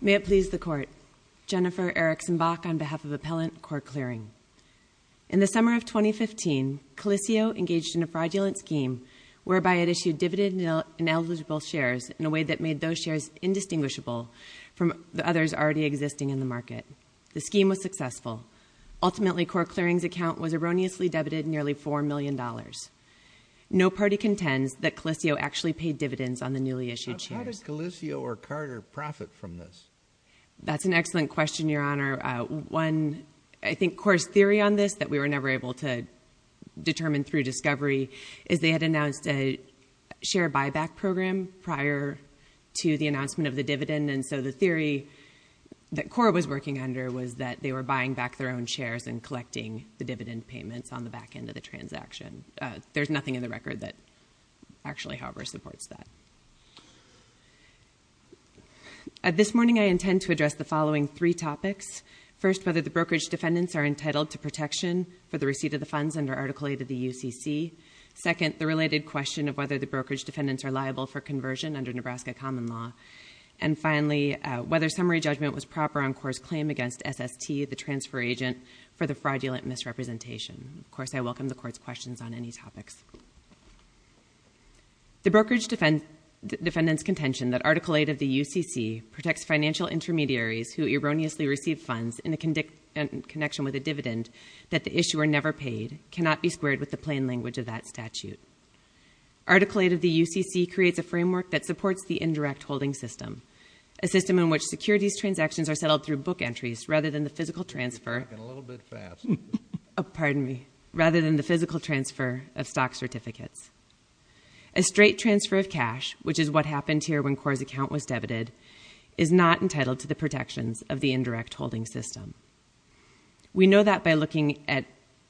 May it please the Court, Jennifer Erickson-Bach on behalf of Appellant, Court Clearing. In the summer of 2015, Calissio engaged in a fraudulent scheme whereby it issued dividend ineligible shares in a way that made those shares indistinguishable from the others already existing in the market. The scheme was successful. Ultimately, Court Clearing's account was erroneously debited nearly $4 million. No party contends that Calissio actually paid dividends on the newly issued shares. How did Calissio or Carter profit from this? That's an excellent question, Your Honor. One, I think, core theory on this that we were never able to determine through discovery is they had announced a share buyback program prior to the announcement of the dividend, so the theory that Cora was working under was that they were buying back their own shares and collecting the dividend payments on the back end of the transaction. There's nothing in the record that actually, however, supports that. This morning I intend to address the following three topics. First, whether the brokerage defendants are entitled to protection for the receipt of the funds under Article 8 of the UCC. Second, the related question of whether the brokerage defendants are liable for conversion under Nebraska common law. And finally, whether summary judgment was proper on Cora's claim against SST, the transfer agent, for the fraudulent misrepresentation. Of course, I welcome the Court's questions on any topics. The brokerage defendants' contention that Article 8 of the UCC protects financial intermediaries who erroneously receive funds in a connection with a dividend that the issuer never paid cannot be squared with the plain language of that statute. Article 8 of the UCC creates a framework that supports the indirect holding system, a system in which securities transactions are settled through book entries rather than the physical transfer of stock certificates. A straight transfer of cash, which is what happened here when Cora's account was debited, is not entitled to the protections of the indirect holding system. We know that by looking at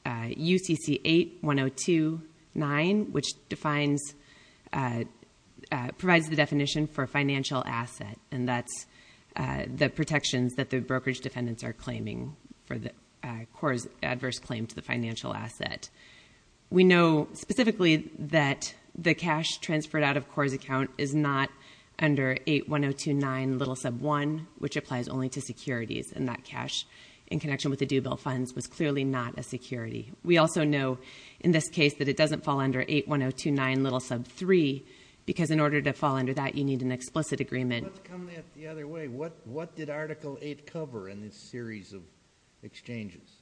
UCC 8.102.9, which provides the definition for a financial asset, and that's the protections that the brokerage defendants are claiming for Cora's adverse claim to the financial asset. We know specifically that the cash transferred out of Cora's account is not under 8.102.9 little sub 1, which applies only to securities, and that cash in connection with the due bill funds was clearly not a security. We also know in this case that it doesn't fall under 8.102.9 little sub 3, because in order to fall under that, you need an explicit agreement. Let's come at it the other way. What did Article 8 cover in this series of exchanges?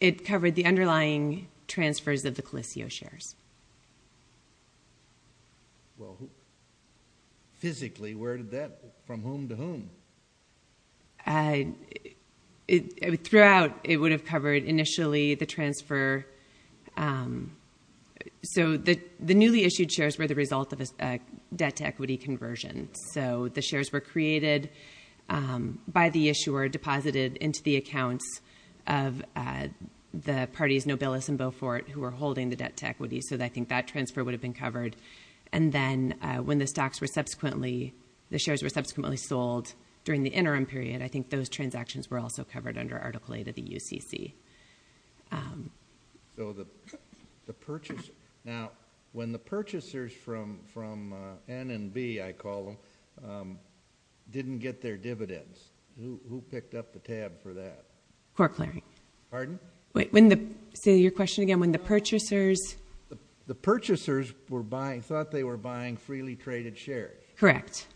It covered the underlying transfers of the Coliseo shares. Physically, from whom to whom? Throughout it would have covered initially the transfer. The newly issued shares were the result of a debt-to-equity conversion. The shares were created by the issuer, deposited into the accounts of the parties Nobilis and I think that transfer would have been covered. When the shares were subsequently sold during the interim period, I think those transactions were also covered under Article 8 of the UCC. When the purchasers from N and B, I call them, didn't get their dividends, who picked up the tab for that? Cora Claring. Pardon? Say your question again. When the purchasers... The purchasers thought they were buying freely traded shares. Correct.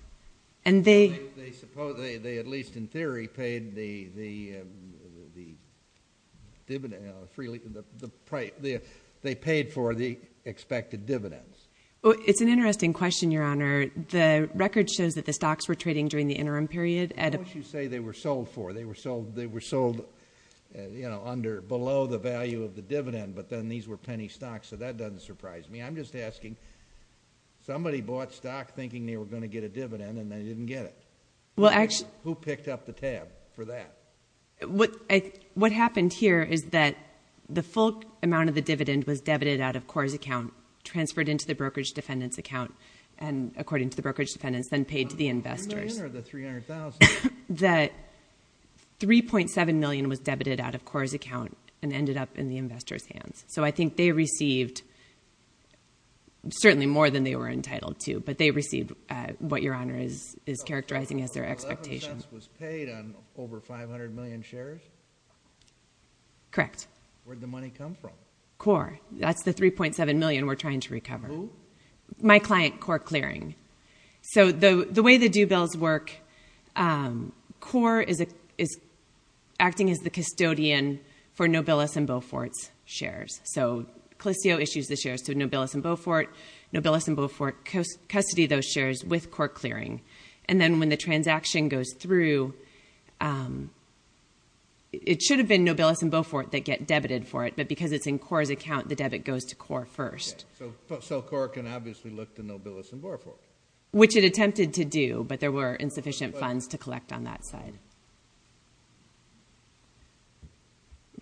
And they... They, at least in theory, paid for the expected dividends. It's an interesting question, Your Honor. The record shows that the stocks were trading during the interim period. What would you say they were sold for? They were sold, you know, under, below the value of the dividend, but then these were penny stocks. So that doesn't surprise me. I'm just asking, somebody bought stock thinking they were going to get a dividend, and they didn't get it. Well, actually... Who picked up the tab for that? What happened here is that the full amount of the dividend was debited out of Cora's account, transferred into the brokerage defendant's account, and according to the brokerage defendant's, then paid to the investors. The $3 million or the $300,000? That $3.7 million was debited out of Cora's account and ended up in the investors' hands. So I think they received certainly more than they were entitled to, but they received what Your Honor is characterizing as their expectation. So 11 cents was paid on over 500 million shares? Correct. Where'd the money come from? Cora. That's the $3.7 million we're trying to recover. Who? My client, Cora Clearing. So the way the due bills work, Cora is acting as the custodian for Nobilis and Beaufort's shares. So Coliseo issues the shares to Nobilis and Beaufort, Nobilis and Beaufort custody those shares with Cora Clearing. And then when the transaction goes through, it should have been Nobilis and Beaufort that get debited for it, but because it's in Cora's account, the debit goes to Cora first. Okay. So Cora can obviously look to Nobilis and Beaufort. Which it attempted to do, but there were insufficient funds to collect on that side.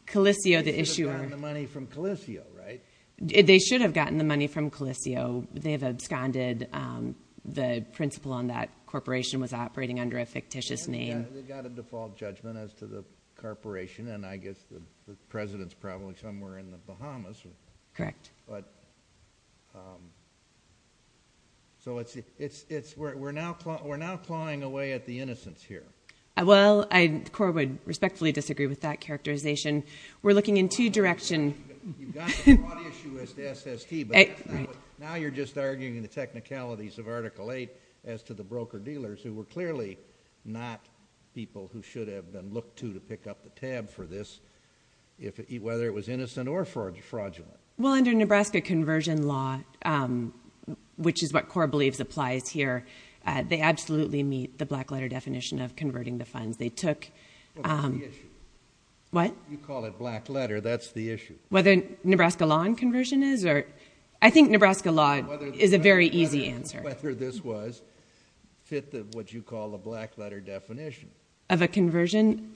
Coliseo, the issuer. They should have gotten the money from Coliseo, right? They should have gotten the money from Coliseo. They have absconded. The principal on that corporation was operating under a fictitious name. They got a default judgment as to the corporation, and I guess the president's probably somewhere in the Bahamas. Correct. But, um, so it's, it's, it's, we're now, we're now clawing away at the innocents here. Well, I, Cora would respectfully disagree with that characterization. We're looking in two directions. You've got the fraud issue as the SST, but that's not what, now you're just arguing the technicalities of Article VIII as to the broker-dealers who were clearly not people who should have been looked to to pick up the tab for this, if, whether it was innocent or fraudulent. Well, under Nebraska conversion law, um, which is what Cora believes applies here, uh, they absolutely meet the black letter definition of converting the funds. They took, um. Well, that's the issue. What? You call it black letter. That's the issue. Whether Nebraska law and conversion is, or, I think Nebraska law is a very easy answer. Whether this was, fit the, what you call the black letter definition. Of a conversion. Of a conversion.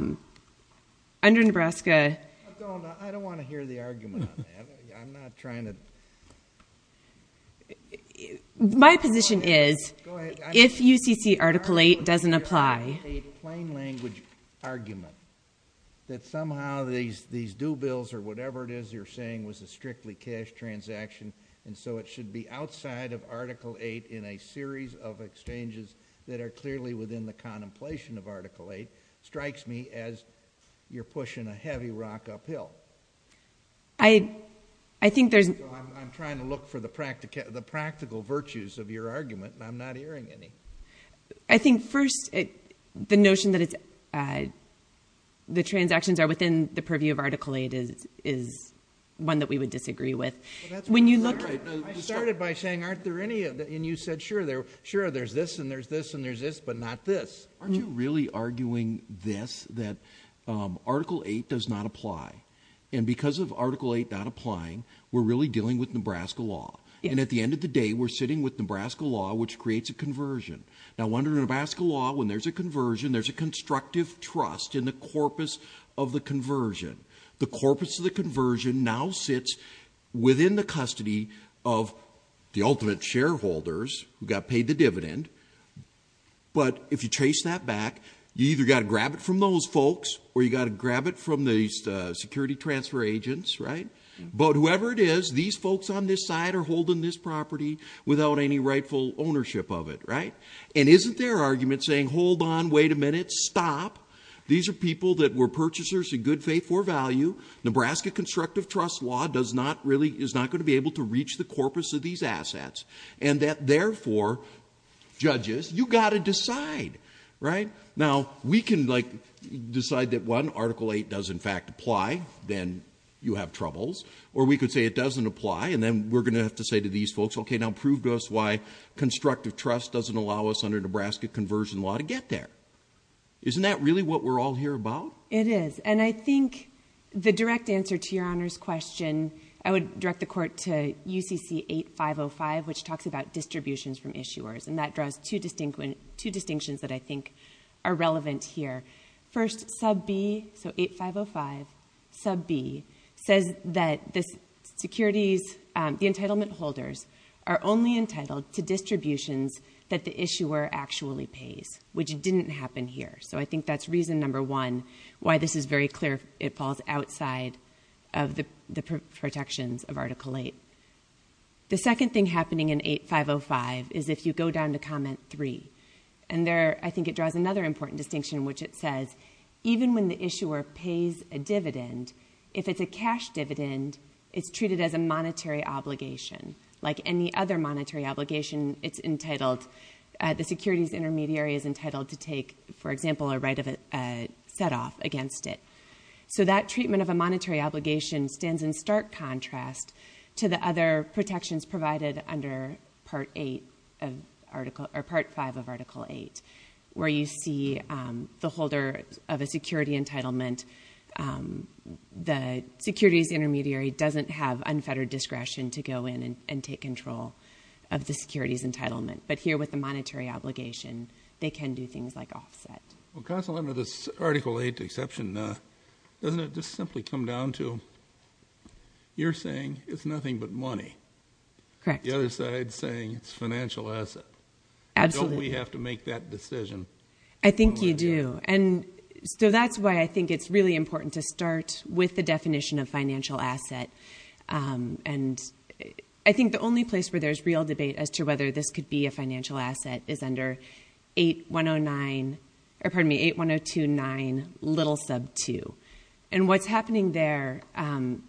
Um. Under Nebraska. I don't, I don't want to hear the argument on that. I'm not trying to. My position is. If UCC Article VIII doesn't apply. I don't want to hear a plain language argument that somehow these, these due bills or whatever it is you're saying was a strictly cash transaction, and so it should be outside of Article VIII in a series of exchanges that are clearly within the contemplation of Article VIII strikes me as you're pushing a heavy rock uphill. I, I think there's. I'm trying to look for the practical virtues of your argument, and I'm not hearing any. I think first it, the notion that it's, uh, the transactions are within the purview of Article VIII is, is one that we would disagree with. When you look. I started by saying aren't there any of the, and you said sure there, sure there's this and there's this and there's this, but not this. Aren't you really arguing this, that, um, Article VIII does not apply. And because of Article VIII not applying, we're really dealing with Nebraska law. And at the end of the day, we're sitting with Nebraska law, which creates a conversion. Now under Nebraska law, when there's a conversion, there's a constructive trust in the corpus of the conversion. The corpus of the conversion now sits within the custody of the ultimate shareholders who got paid the dividend. But if you chase that back, you either got to grab it from those folks or you got to grab it from the, uh, security transfer agents, right? But whoever it is, these folks on this side are holding this property without any rightful ownership of it, right? And isn't their argument saying, hold on, wait a minute, stop. These are people that were purchasers in good faith for value. Nebraska constructive trust law does not really, is not going to be able to reach the corpus of these assets. And that therefore, judges, you got to decide, right? Now we can like decide that when Article VIII does in fact apply, then you have troubles. Or we could say it doesn't apply and then we're going to have to say to these folks, okay, now prove to us why constructive trust doesn't allow us under Nebraska conversion law to get there. Isn't that really what we're all here about? It is. And I think the direct answer to your honor's question, I would direct the court to UCC 8505, which talks about distributions from issuers. And that draws two distinct, two distinctions that I think are relevant here. First sub B, so 8505 sub B says that this securities, um, the entitlement holders are only entitled to distributions that the issuer actually pays, which didn't happen here. So I think that's reason number one, why this is very clear. It falls outside of the protections of Article VIII. The second thing happening in 8505 is if you go down to comment three and there, I think it draws another important distinction, which it says, even when the issuer pays a dividend, if it's a cash dividend, it's treated as a monetary obligation. Like any other monetary obligation, it's entitled, uh, the securities intermediary is entitled to take, for example, a right of, uh, set off against it. So that treatment of a monetary obligation stands in stark contrast to the other protections provided under Part VIII of Article VIII, where you see, um, the holder of a security entitlement, um, the securities intermediary doesn't have unfettered discretion to go in and take control of the securities entitlement. But here with the monetary obligation, they can do things like offset. Well, constantly under this Article VIII exception, uh, doesn't it just simply come down to you're saying it's nothing but money. Correct. The other side saying it's financial asset. Absolutely. Don't we have to make that decision? I think you do. And so that's why I think it's really important to start with the definition of financial asset. Um, and I think the only place where there's real debate as to whether this could be a financial asset is under 8109, or pardon me, 81029, little sub two. And what's happening there, um,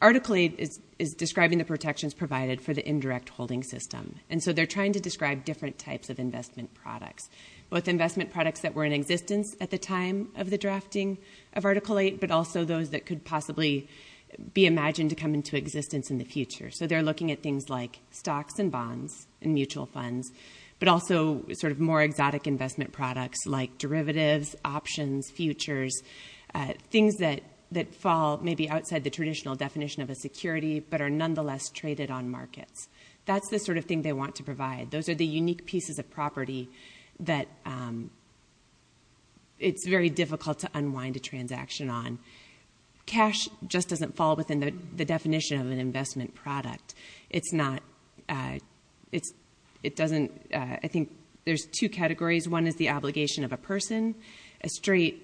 Article VIII is, is describing the protections provided for the indirect holding system. And so they're trying to describe different types of investment products, both investment products that were in existence at the time of the drafting of Article VIII, but also those that could possibly be imagined to come into existence in the future. So they're looking at things like stocks and bonds and mutual funds, but also sort of more exotic investment products like derivatives, options, futures, uh, things that, that fall maybe outside the traditional definition of a security, but are nonetheless traded on markets. That's the sort of thing they want to provide. Those are the unique pieces of property that, um, it's very difficult to unwind a transaction on. Cash just doesn't fall within the definition of an investment product. It's not, uh, it's, it doesn't, uh, I think there's two categories. One is the obligation of a person. A straight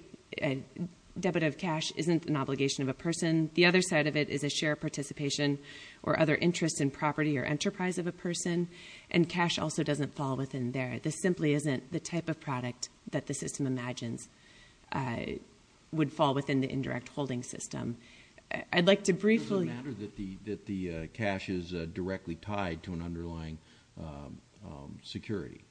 debit of cash isn't an obligation of a person. The other side of it is a share participation or other interest in property or enterprise of a person. And cash also doesn't fall within there. This simply isn't the type of product that the system imagines, uh, would fall within the indirect holding system. I'd like to briefly- Is it a matter that the, that the cash is directly tied to an underlying, um, um, security?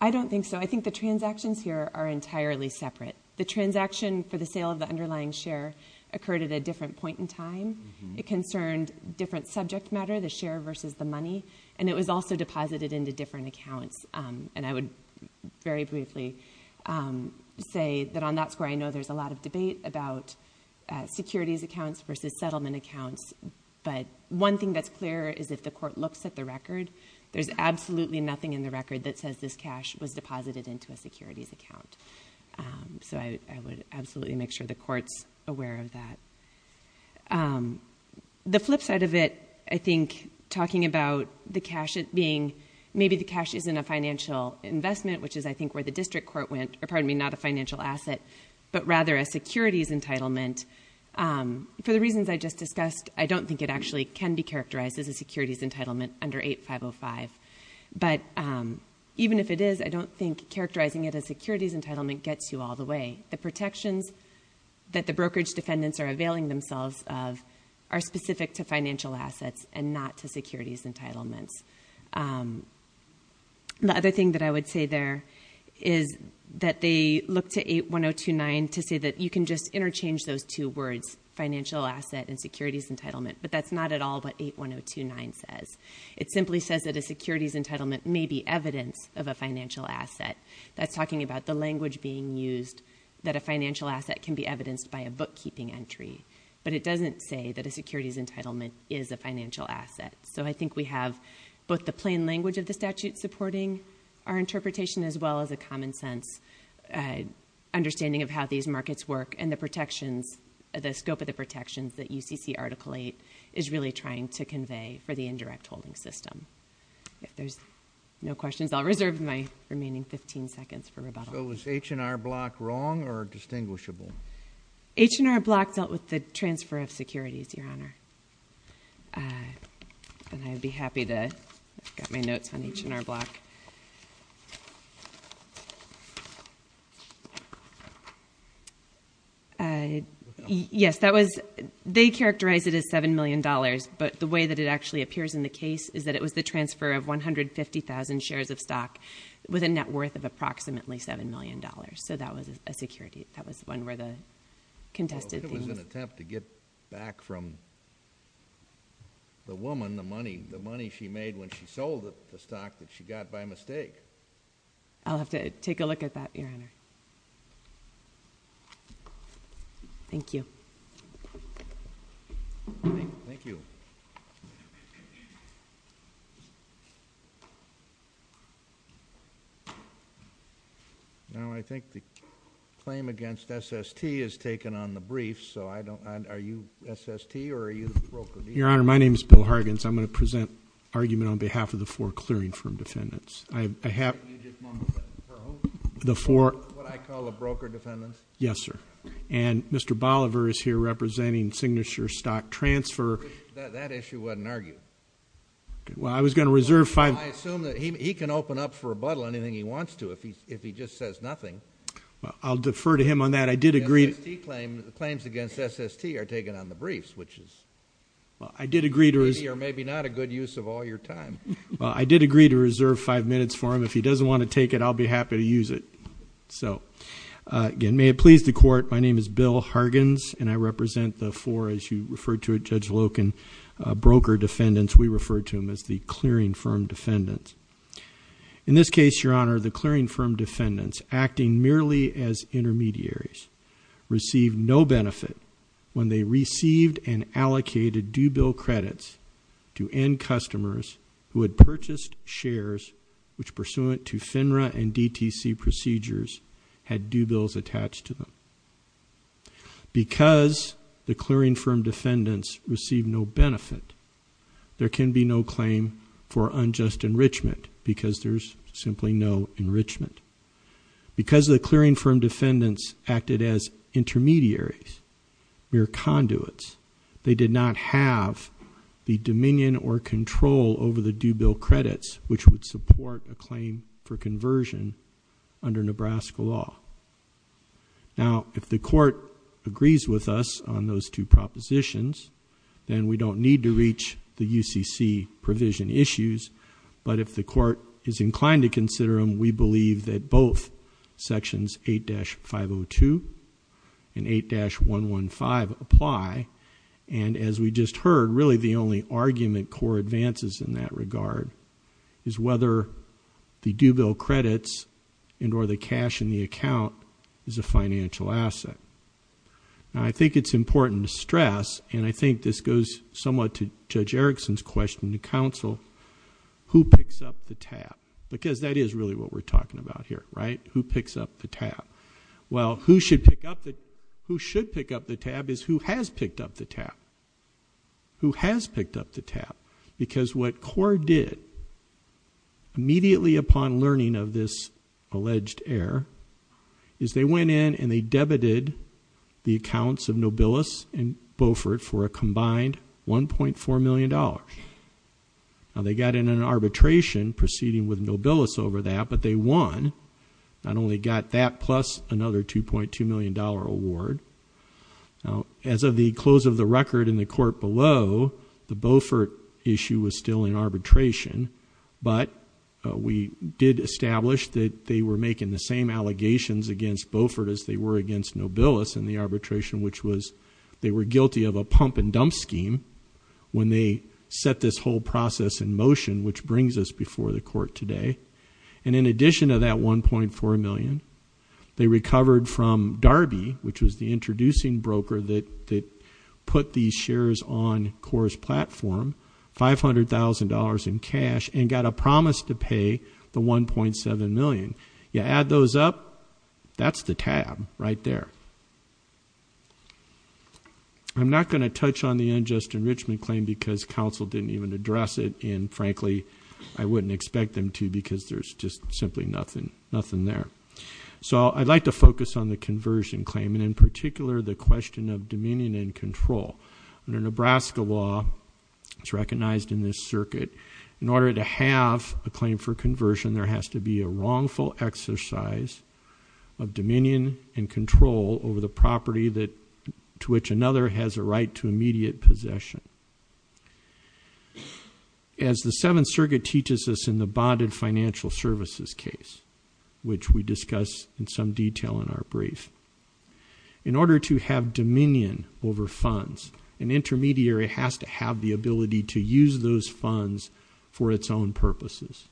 I don't think so. I think the transactions here are entirely separate. The transaction for the sale of the underlying share occurred at a different point in time. It concerned different subject matter, the share versus the money. And it was also deposited into different accounts. Um, and I would very briefly, um, say that on that score, I know there's a lot of debate about, uh, securities accounts versus settlement accounts, but one thing that's clear is if the court looks at the record, there's absolutely nothing in the record that says this cash was deposited into a securities account. Um, so I, I would absolutely make sure the court's aware of that. Um, the flip side of it, I think talking about the cash being, maybe the cash isn't a financial investment, which is I think where the district court went, or pardon me, not a financial asset, but rather a securities entitlement, um, for the reasons I just discussed, I don't think it actually can be characterized as a securities entitlement under 8505. But, um, even if it is, I don't think characterizing it as securities entitlement gets you all the way. The protections that the brokerage defendants are availing themselves of are specific to financial assets and not to securities entitlements. Um, the other thing that I would say there is that they look to 81029 to say that you can just interchange those two words, financial asset and securities entitlement, but that's not at all what 81029 says. It simply says that a securities entitlement may be evidence of a financial asset. That's talking about the language being used that a financial asset can be evidenced by a bookkeeping entry, but it doesn't say that a securities entitlement is a financial asset. So I think we have both the plain language of the statute supporting our interpretation as well as a common sense, uh, understanding of how these markets work and the protections, the scope of the protections that UCC Article 8 is really trying to convey for the indirect holding system. If there's no questions, I'll reserve my remaining 15 seconds for rebuttal. So is H&R Block wrong or distinguishable? H&R Block dealt with the transfer of securities, Your Honor, uh, and I'd be happy to, I've got my notes on H&R Block. Uh, yes, that was, they characterize it as $7 million, but the way that it actually appears in the case is that it was the transfer of 150,000 shares of stock with a net worth of approximately $7 million. So that was a security. That was one where the contested things... Well, I think it was an attempt to get back from the woman the money, the money she made when she sold the stock that she got by mistake. I'll have to take a look at that, Your Honor. Thank you. Thank you. Now, I think the claim against SST is taken on the brief, so I don't, are you SST or are you the broker? Your Honor, my name is Bill Hargens. I'm going to present argument on behalf of the four clearing firm defendants. I have... Can you just moment that for a moment? The four... What I call the broker defendants? Yes, sir. Mr. Bolivar is here representing Signature Stock Transfer... That issue wasn't argued. Well, I was going to reserve five... I assume that he can open up for rebuttal anything he wants to if he just says nothing. I'll defer to him on that. I did agree... The SST claim, the claims against SST are taken on the briefs, which is... I did agree to...... maybe or maybe not a good use of all your time. I did agree to reserve five minutes for him. If he doesn't want to take it, I'll be happy to use it. So, again, may it please the court, my name is Bill Hargens and I represent the four, as you referred to it, Judge Loken, broker defendants. We refer to them as the clearing firm defendants. In this case, Your Honor, the clearing firm defendants acting merely as intermediaries received no benefit when they received and allocated due bill credits to end customers who had purchased shares which, pursuant to FINRA and DTC procedures, had due bills attached to them. Because the clearing firm defendants received no benefit, there can be no claim for unjust enrichment because there's simply no enrichment. Because the clearing firm defendants acted as intermediaries, mere conduits, they did not have the dominion or control over the due bill credits which would support a claim for conversion under Nebraska law. Now, if the court agrees with us on those two propositions, then we don't need to reach the UCC provision issues, but if the court is inclined to consider them, we believe that both sections 8-502 and 8-115 apply, and as we just heard, really the only argument core advances in that regard is whether the due bill credits and or the cash in the account is a financial asset. I think it's important to stress, and I think this goes somewhat to Judge Erickson's question to counsel, who picks up the tab? Because that is really what we're talking about here, right? Who picks up the tab? Well, who should pick up the tab is who has picked up the tab. Who has picked up the tab? Because what CORE did, immediately upon learning of this alleged error, is they went in and they debited the accounts of Nobilis and Beaufort for a combined $1.4 million. Now, they got in an arbitration proceeding with Nobilis over that, but they won. Not only got that, plus another $2.2 million award. Now, as of the close of the record in the court below, the Beaufort issue was still in arbitration, but we did establish that they were making the same allegations against Beaufort as they were against Nobilis in the arbitration, which was they were guilty of a pump and dump scheme when they set this whole process in motion, which brings us before the court today. And in addition to that $1.4 million, they recovered from Darby, which was the introducing broker that put these shares on CORE's platform, $500,000 in cash, and got a promise to pay the $1.7 million. You add those up, that's the tab right there. I'm not going to touch on the unjust enrichment claim because counsel didn't even address it, and frankly, I wouldn't expect them to because there's just simply nothing there. So I'd like to focus on the conversion claim, and in particular, the question of dominion and control. Under Nebraska law, it's recognized in this circuit, in order to have a claim for conversion, there has to be a wrongful exercise of dominion and control over the property to which another has a right to immediate possession. As the Seventh Circuit teaches us in the bonded financial services case, which we discuss in some detail in our brief, in order to have dominion over funds, an intermediary has to have the ability to use those funds for its own purposes.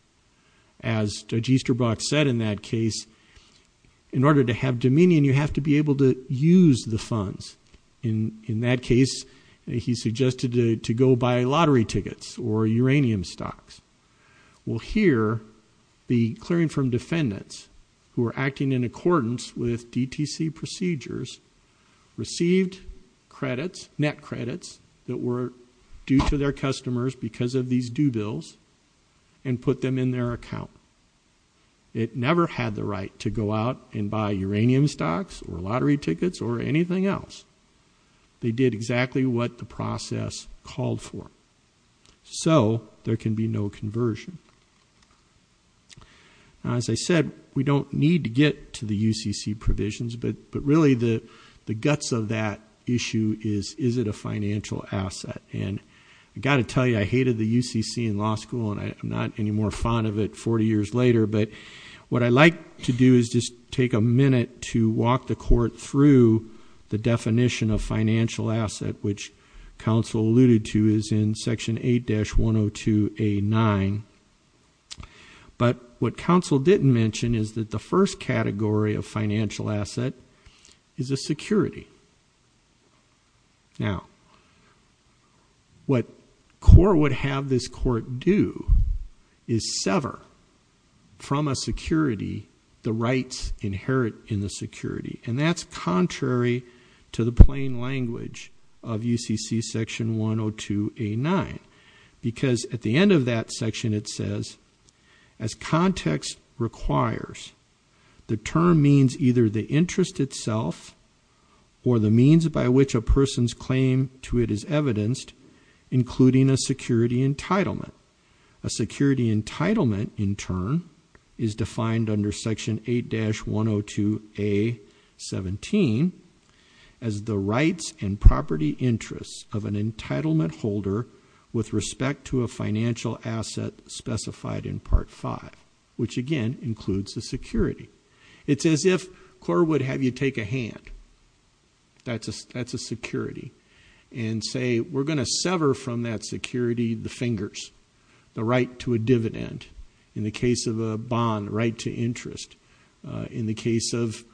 As Judge Easterbrock said in that case, in order to have dominion, you have to be able to use the funds. In that case, he suggested to go buy lottery tickets or uranium stocks. Well here, the clearing firm defendants, who are acting in accordance with DTC procedures, received credits, net credits, that were due to their customers because of these due bills and put them in their account. It never had the right to go out and buy uranium stocks or lottery tickets or anything else. They did exactly what the process called for. So there can be no conversion. Now as I said, we don't need to get to the UCC provisions, but really the guts of that issue is, is it a financial asset? And I've got to tell you, I hated the UCC in law school and I'm not any more fond of it 40 years later, but what I'd like to do is just take a minute to walk the court through the definition of financial asset, which counsel alluded to is in Section 8-102A9. But what counsel didn't mention is that the first category of financial asset is a security. Now what CORE would have this court do is sever from a security the rights inherent in the security, and that's contrary to the plain language of UCC Section 102A9, because at the end of that section it says, as context requires, the term means either the interest itself or the means by which a person's claim to it is evidenced, including a security entitlement. A security entitlement in turn is defined under Section 8-102A17 as the rights and property interests of an entitlement holder with respect to a financial asset specified in Part 5, which again includes a security. It's as if CORE would have you take a hand, that's a security, and say we're going to sever from that security the fingers, the right to a dividend, in the case of a bond right to interest, in the case of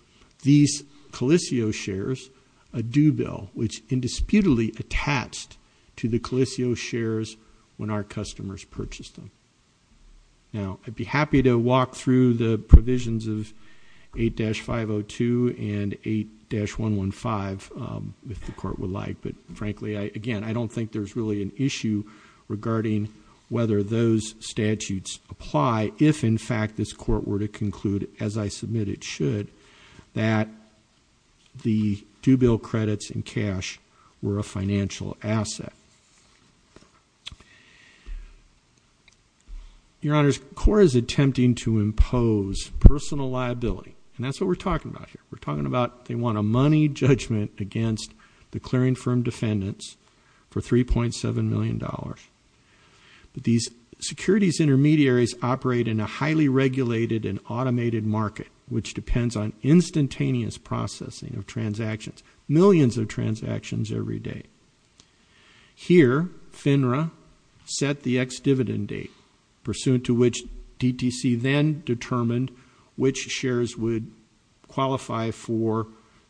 these Coliseo shares, a due bill, which indisputably attached to the Coliseo shares when our customers purchased them. Now I'd be happy to walk through the provisions of 8-502 and 8-115 if the court would like, but frankly again I don't think there's really an issue regarding whether those statutes apply if in fact this court were to conclude, as I submit it should, that the due bill credits in cash were a financial asset. Your Honors, CORE is attempting to impose personal liability, and that's what we're talking about here. We're talking about they want a money judgment against the clearing of a bond. These areas operate in a highly regulated and automated market, which depends on instantaneous processing of transactions, millions of transactions every day. Here FINRA set the ex-dividend date, pursuant to which DTC then determined which shares would qualify for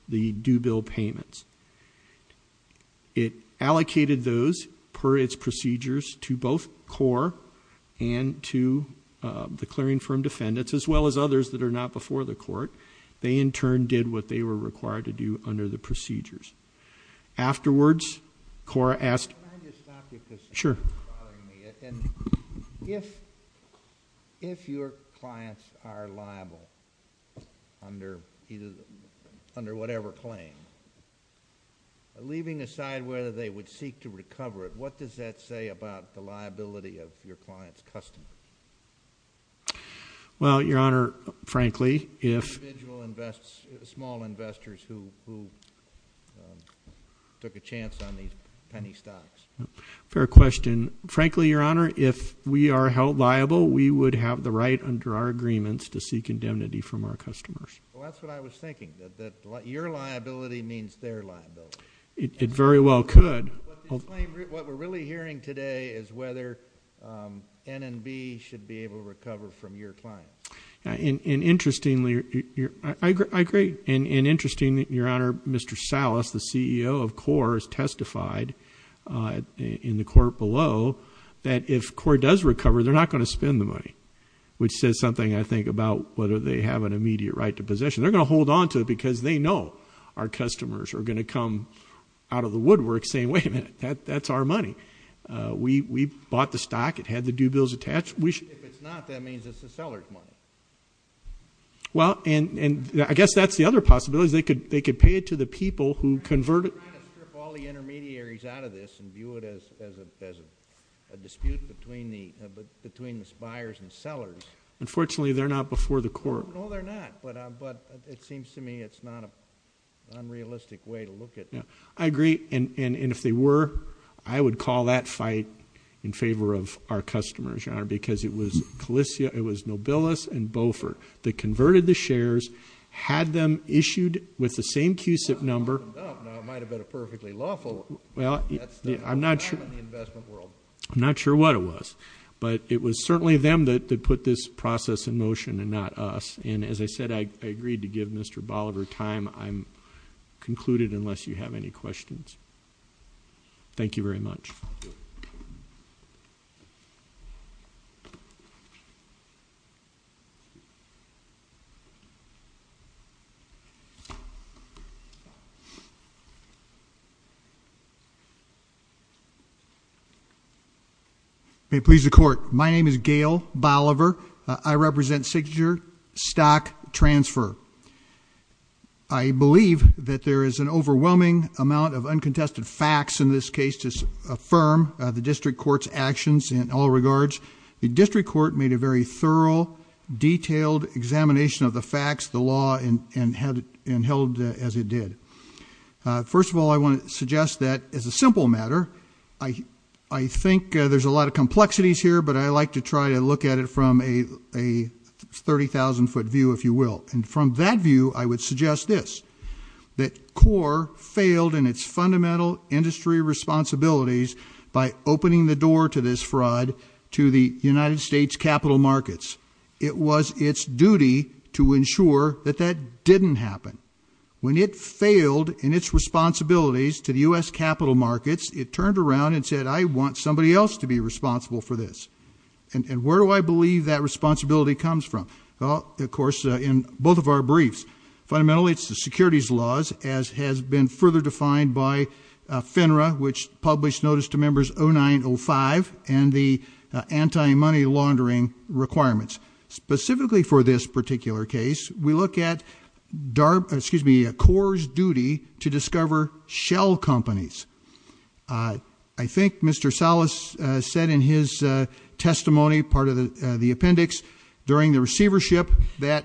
the due bill payments. It allocated those, per its procedures, to both CORE and to the clearing firm defendants, as well as others that are not before the court. They in turn did what they were required to do under the procedures. Afterwards, CORE asked... Can I just stop you, because you're bothering me. Sure. If your clients are liable, under whatever claim, leaving aside whether they would seek to recover it, what does that say about the liability of your client's customer? Well, Your Honor, frankly, if... Individual small investors who took a chance on these penny stocks. Fair question. Frankly, Your Honor, if we are held liable, we would have the right under our agreements to seek indemnity from our customers. Well, that's what I was thinking, that your liability means their liability. It very well could. What we're really hearing today is whether N&B should be able to recover from your client. Interestingly, I agree, and interestingly, Your Honor, Mr. Salas, the CEO of CORE, has said in the court below that if CORE does recover, they're not going to spend the money, which says something, I think, about whether they have an immediate right to possession. They're going to hold on to it because they know our customers are going to come out of the woodwork saying, wait a minute, that's our money. We bought the stock. It had the due bills attached. If it's not, that means it's the seller's money. I guess that's the other possibility, is they could pay it to the people who converted... Well, we're not going to strip all the intermediaries out of this and view it as a dispute between the buyers and sellers. Unfortunately, they're not before the court. No, they're not, but it seems to me it's not an unrealistic way to look at... I agree, and if they were, I would call that fight in favor of our customers, Your Honor, because it was Nobilis and Bofer that converted the shares, had them issued with the same I'm not sure what it was, but it was certainly them that put this process in motion and not us. As I said, I agreed to give Mr. Bolivar time. I'm concluded unless you have any questions. Thank you very much. May it please the court. My name is Gail Bolivar. I represent Signature Stock Transfer. I believe that there is an overwhelming amount of uncontested facts in this case to affirm the district court's actions in all regards. The district court made a very thorough, detailed examination of the facts, the law, and held as it did. First of all, I want to suggest that, as a simple matter, I think there's a lot of complexities here, but I like to try to look at it from a 30,000 foot view, if you will. And from that view, I would suggest this, that CORE failed in its fundamental industry responsibilities by opening the door to this fraud to the United States capital markets. It was its duty to ensure that that didn't happen. When it failed in its responsibilities to the US capital markets, it turned around and said, I want somebody else to be responsible for this. And where do I believe that responsibility comes from? Well, of course, in both of our briefs. Fundamentally, it's the securities laws, as has been further defined by FINRA, which published notice to members 0905 and the anti-money laundering requirements. Specifically for this particular case, we look at CORE's duty to discover shell companies. I think Mr. Salas said in his testimony, part of the appendix, during the receivership, that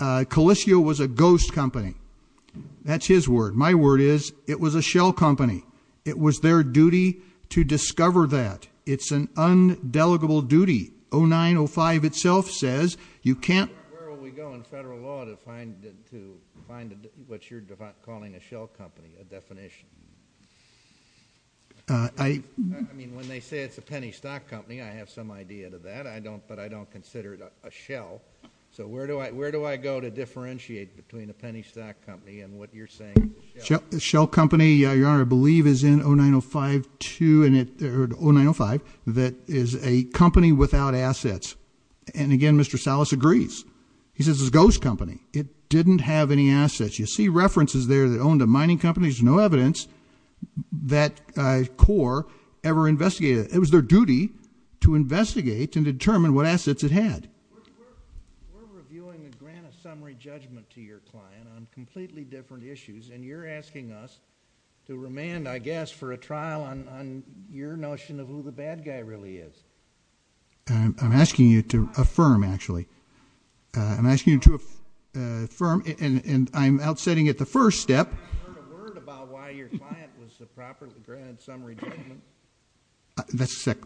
Colisio was a ghost company. That's his word. My word is, it was a shell company. It was their duty to discover that. It's an undeligable duty. 0905 itself says, you can't- Where will we go in federal law to find what you're calling a shell company, a definition? I mean, when they say it's a penny stock company, I have some idea to that, but I don't consider it a shell. So where do I go to differentiate between a penny stock company and what you're saying is a shell? A shell company, Your Honor, I believe is in 0905 that is a company without assets. And again, Mr. Salas agrees. He says it's a ghost company. It didn't have any assets. You see references there that owned a mining company. There's no evidence that CORE ever investigated it. It was their duty to investigate and determine what assets it had. We're reviewing the grant of summary judgment to your client on completely different issues. And you're asking us to remand, I guess, for a trial on your notion of who the bad guy really is. I'm asking you to affirm, actually. I'm asking you to affirm, and I'm outstanding at the first step. I haven't heard a word about why your client was the proper grant summary judgment.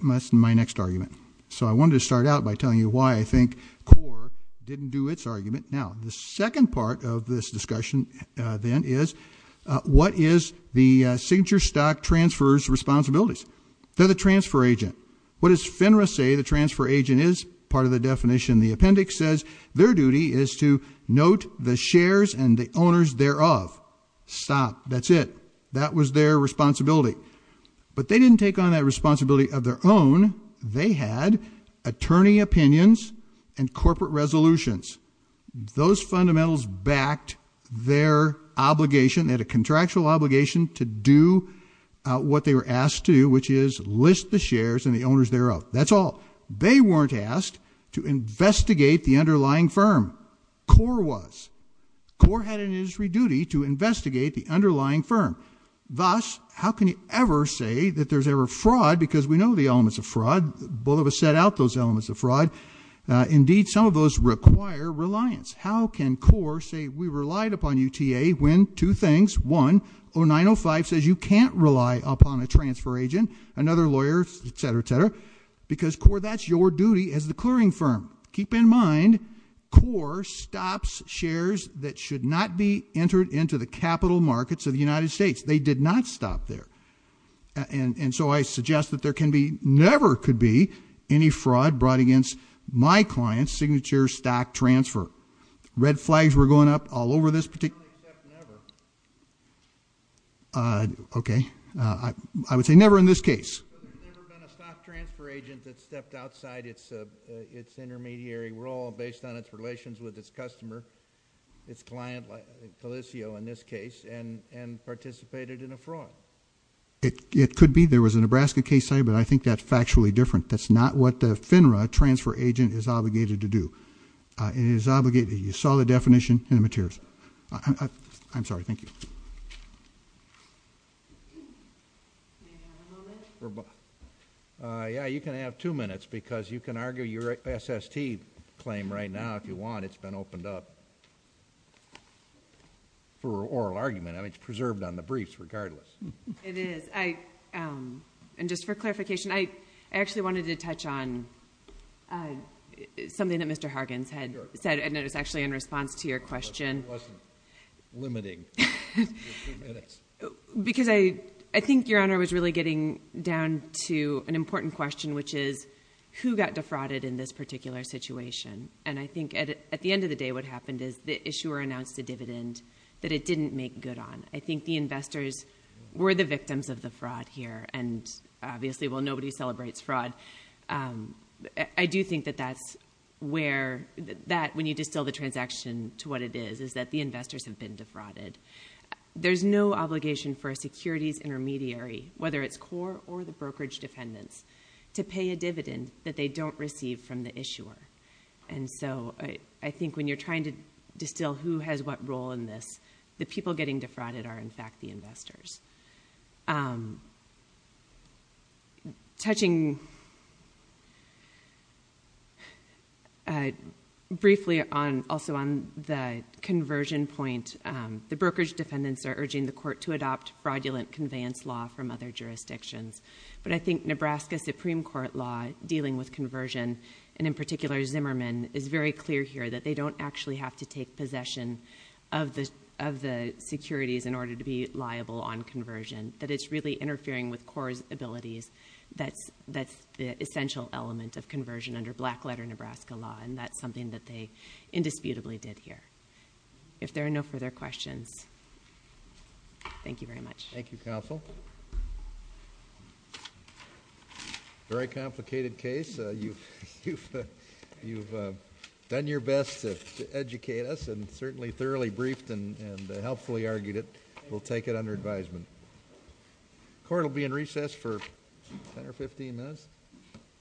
That's my next argument. So I wanted to start out by telling you why I think CORE didn't do its argument. Now, the second part of this discussion then is, what is the signature stock transfer's responsibilities? They're the transfer agent. What does FINRA say the transfer agent is? Part of the definition. The appendix says, their duty is to note the shares and the owners thereof. Stop, that's it. That was their responsibility. But they didn't take on that responsibility of their own. They had attorney opinions and corporate resolutions. Those fundamentals backed their obligation. They had a contractual obligation to do what they were asked to, which is list the shares and the owners thereof. That's all. They weren't asked to investigate the underlying firm. CORE was. CORE had an industry duty to investigate the underlying firm. Thus, how can you ever say that there's ever fraud, because we know the elements of fraud. Both of us set out those elements of fraud. Indeed, some of those require reliance. How can CORE say we relied upon UTA when two things, one, 0905 says you can't rely upon a transfer agent, another lawyer, etc., etc. Because CORE, that's your duty as the clearing firm. Keep in mind, CORE stops shares that should not be entered into the capital markets of the United States. They did not stop there. And so I suggest that there can be, never could be, any fraud brought against my client's signature stock transfer. Red flags were going up all over this particular- I only accept never. Okay, I would say never in this case. There's never been a stock transfer agent that stepped outside its intermediary role based on its relations with its customer, its client, like Felicio in this case, and participated in a fraud. It could be. There was a Nebraska case, but I think that's factually different. That's not what the FINRA transfer agent is obligated to do. It is obligated, you saw the definition in the materials. I'm sorry, thank you. Yeah, you can have two minutes because you can argue your SST claim right now if you want. It's been opened up for oral argument. I mean, it's preserved on the briefs regardless. It is, and just for clarification, I actually wanted to touch on something that Mr. Hargens had said, and it was actually in response to your question. I wasn't limiting your two minutes. Because I think, Your Honor, I was really getting down to an important question, which is who got defrauded in this particular situation? And I think at the end of the day, what happened is the issuer announced a dividend that it didn't make good on. I think the investors were the victims of the fraud here, and obviously, well, nobody celebrates fraud. I do think that that's where, that when you distill the transaction to what it is, is that the investors have been defrauded. There's no obligation for a securities intermediary, whether it's core or the brokerage defendants, to pay a dividend that they don't receive from the issuer. And so I think when you're trying to distill who has what role in this, it's not just the brokers, it's the brokers themselves, and it's not just the brokers. Touching briefly also on the conversion point. The brokerage defendants are urging the court to adopt fraudulent conveyance law from other jurisdictions. But I think Nebraska Supreme Court law dealing with conversion, and in particular Zimmerman, is very clear here that they don't actually have to take possession of the securities in order to be liable on conversion. That it's really interfering with core's abilities. That's the essential element of conversion under black letter Nebraska law, and that's something that they indisputably did here. If there are no further questions, thank you very much. Thank you, Counsel. Very complicated case. You've done your best to educate us and certainly thoroughly briefed and helpfully argued it. We'll take it under advisement. Court will be in recess for 10 or 15 minutes.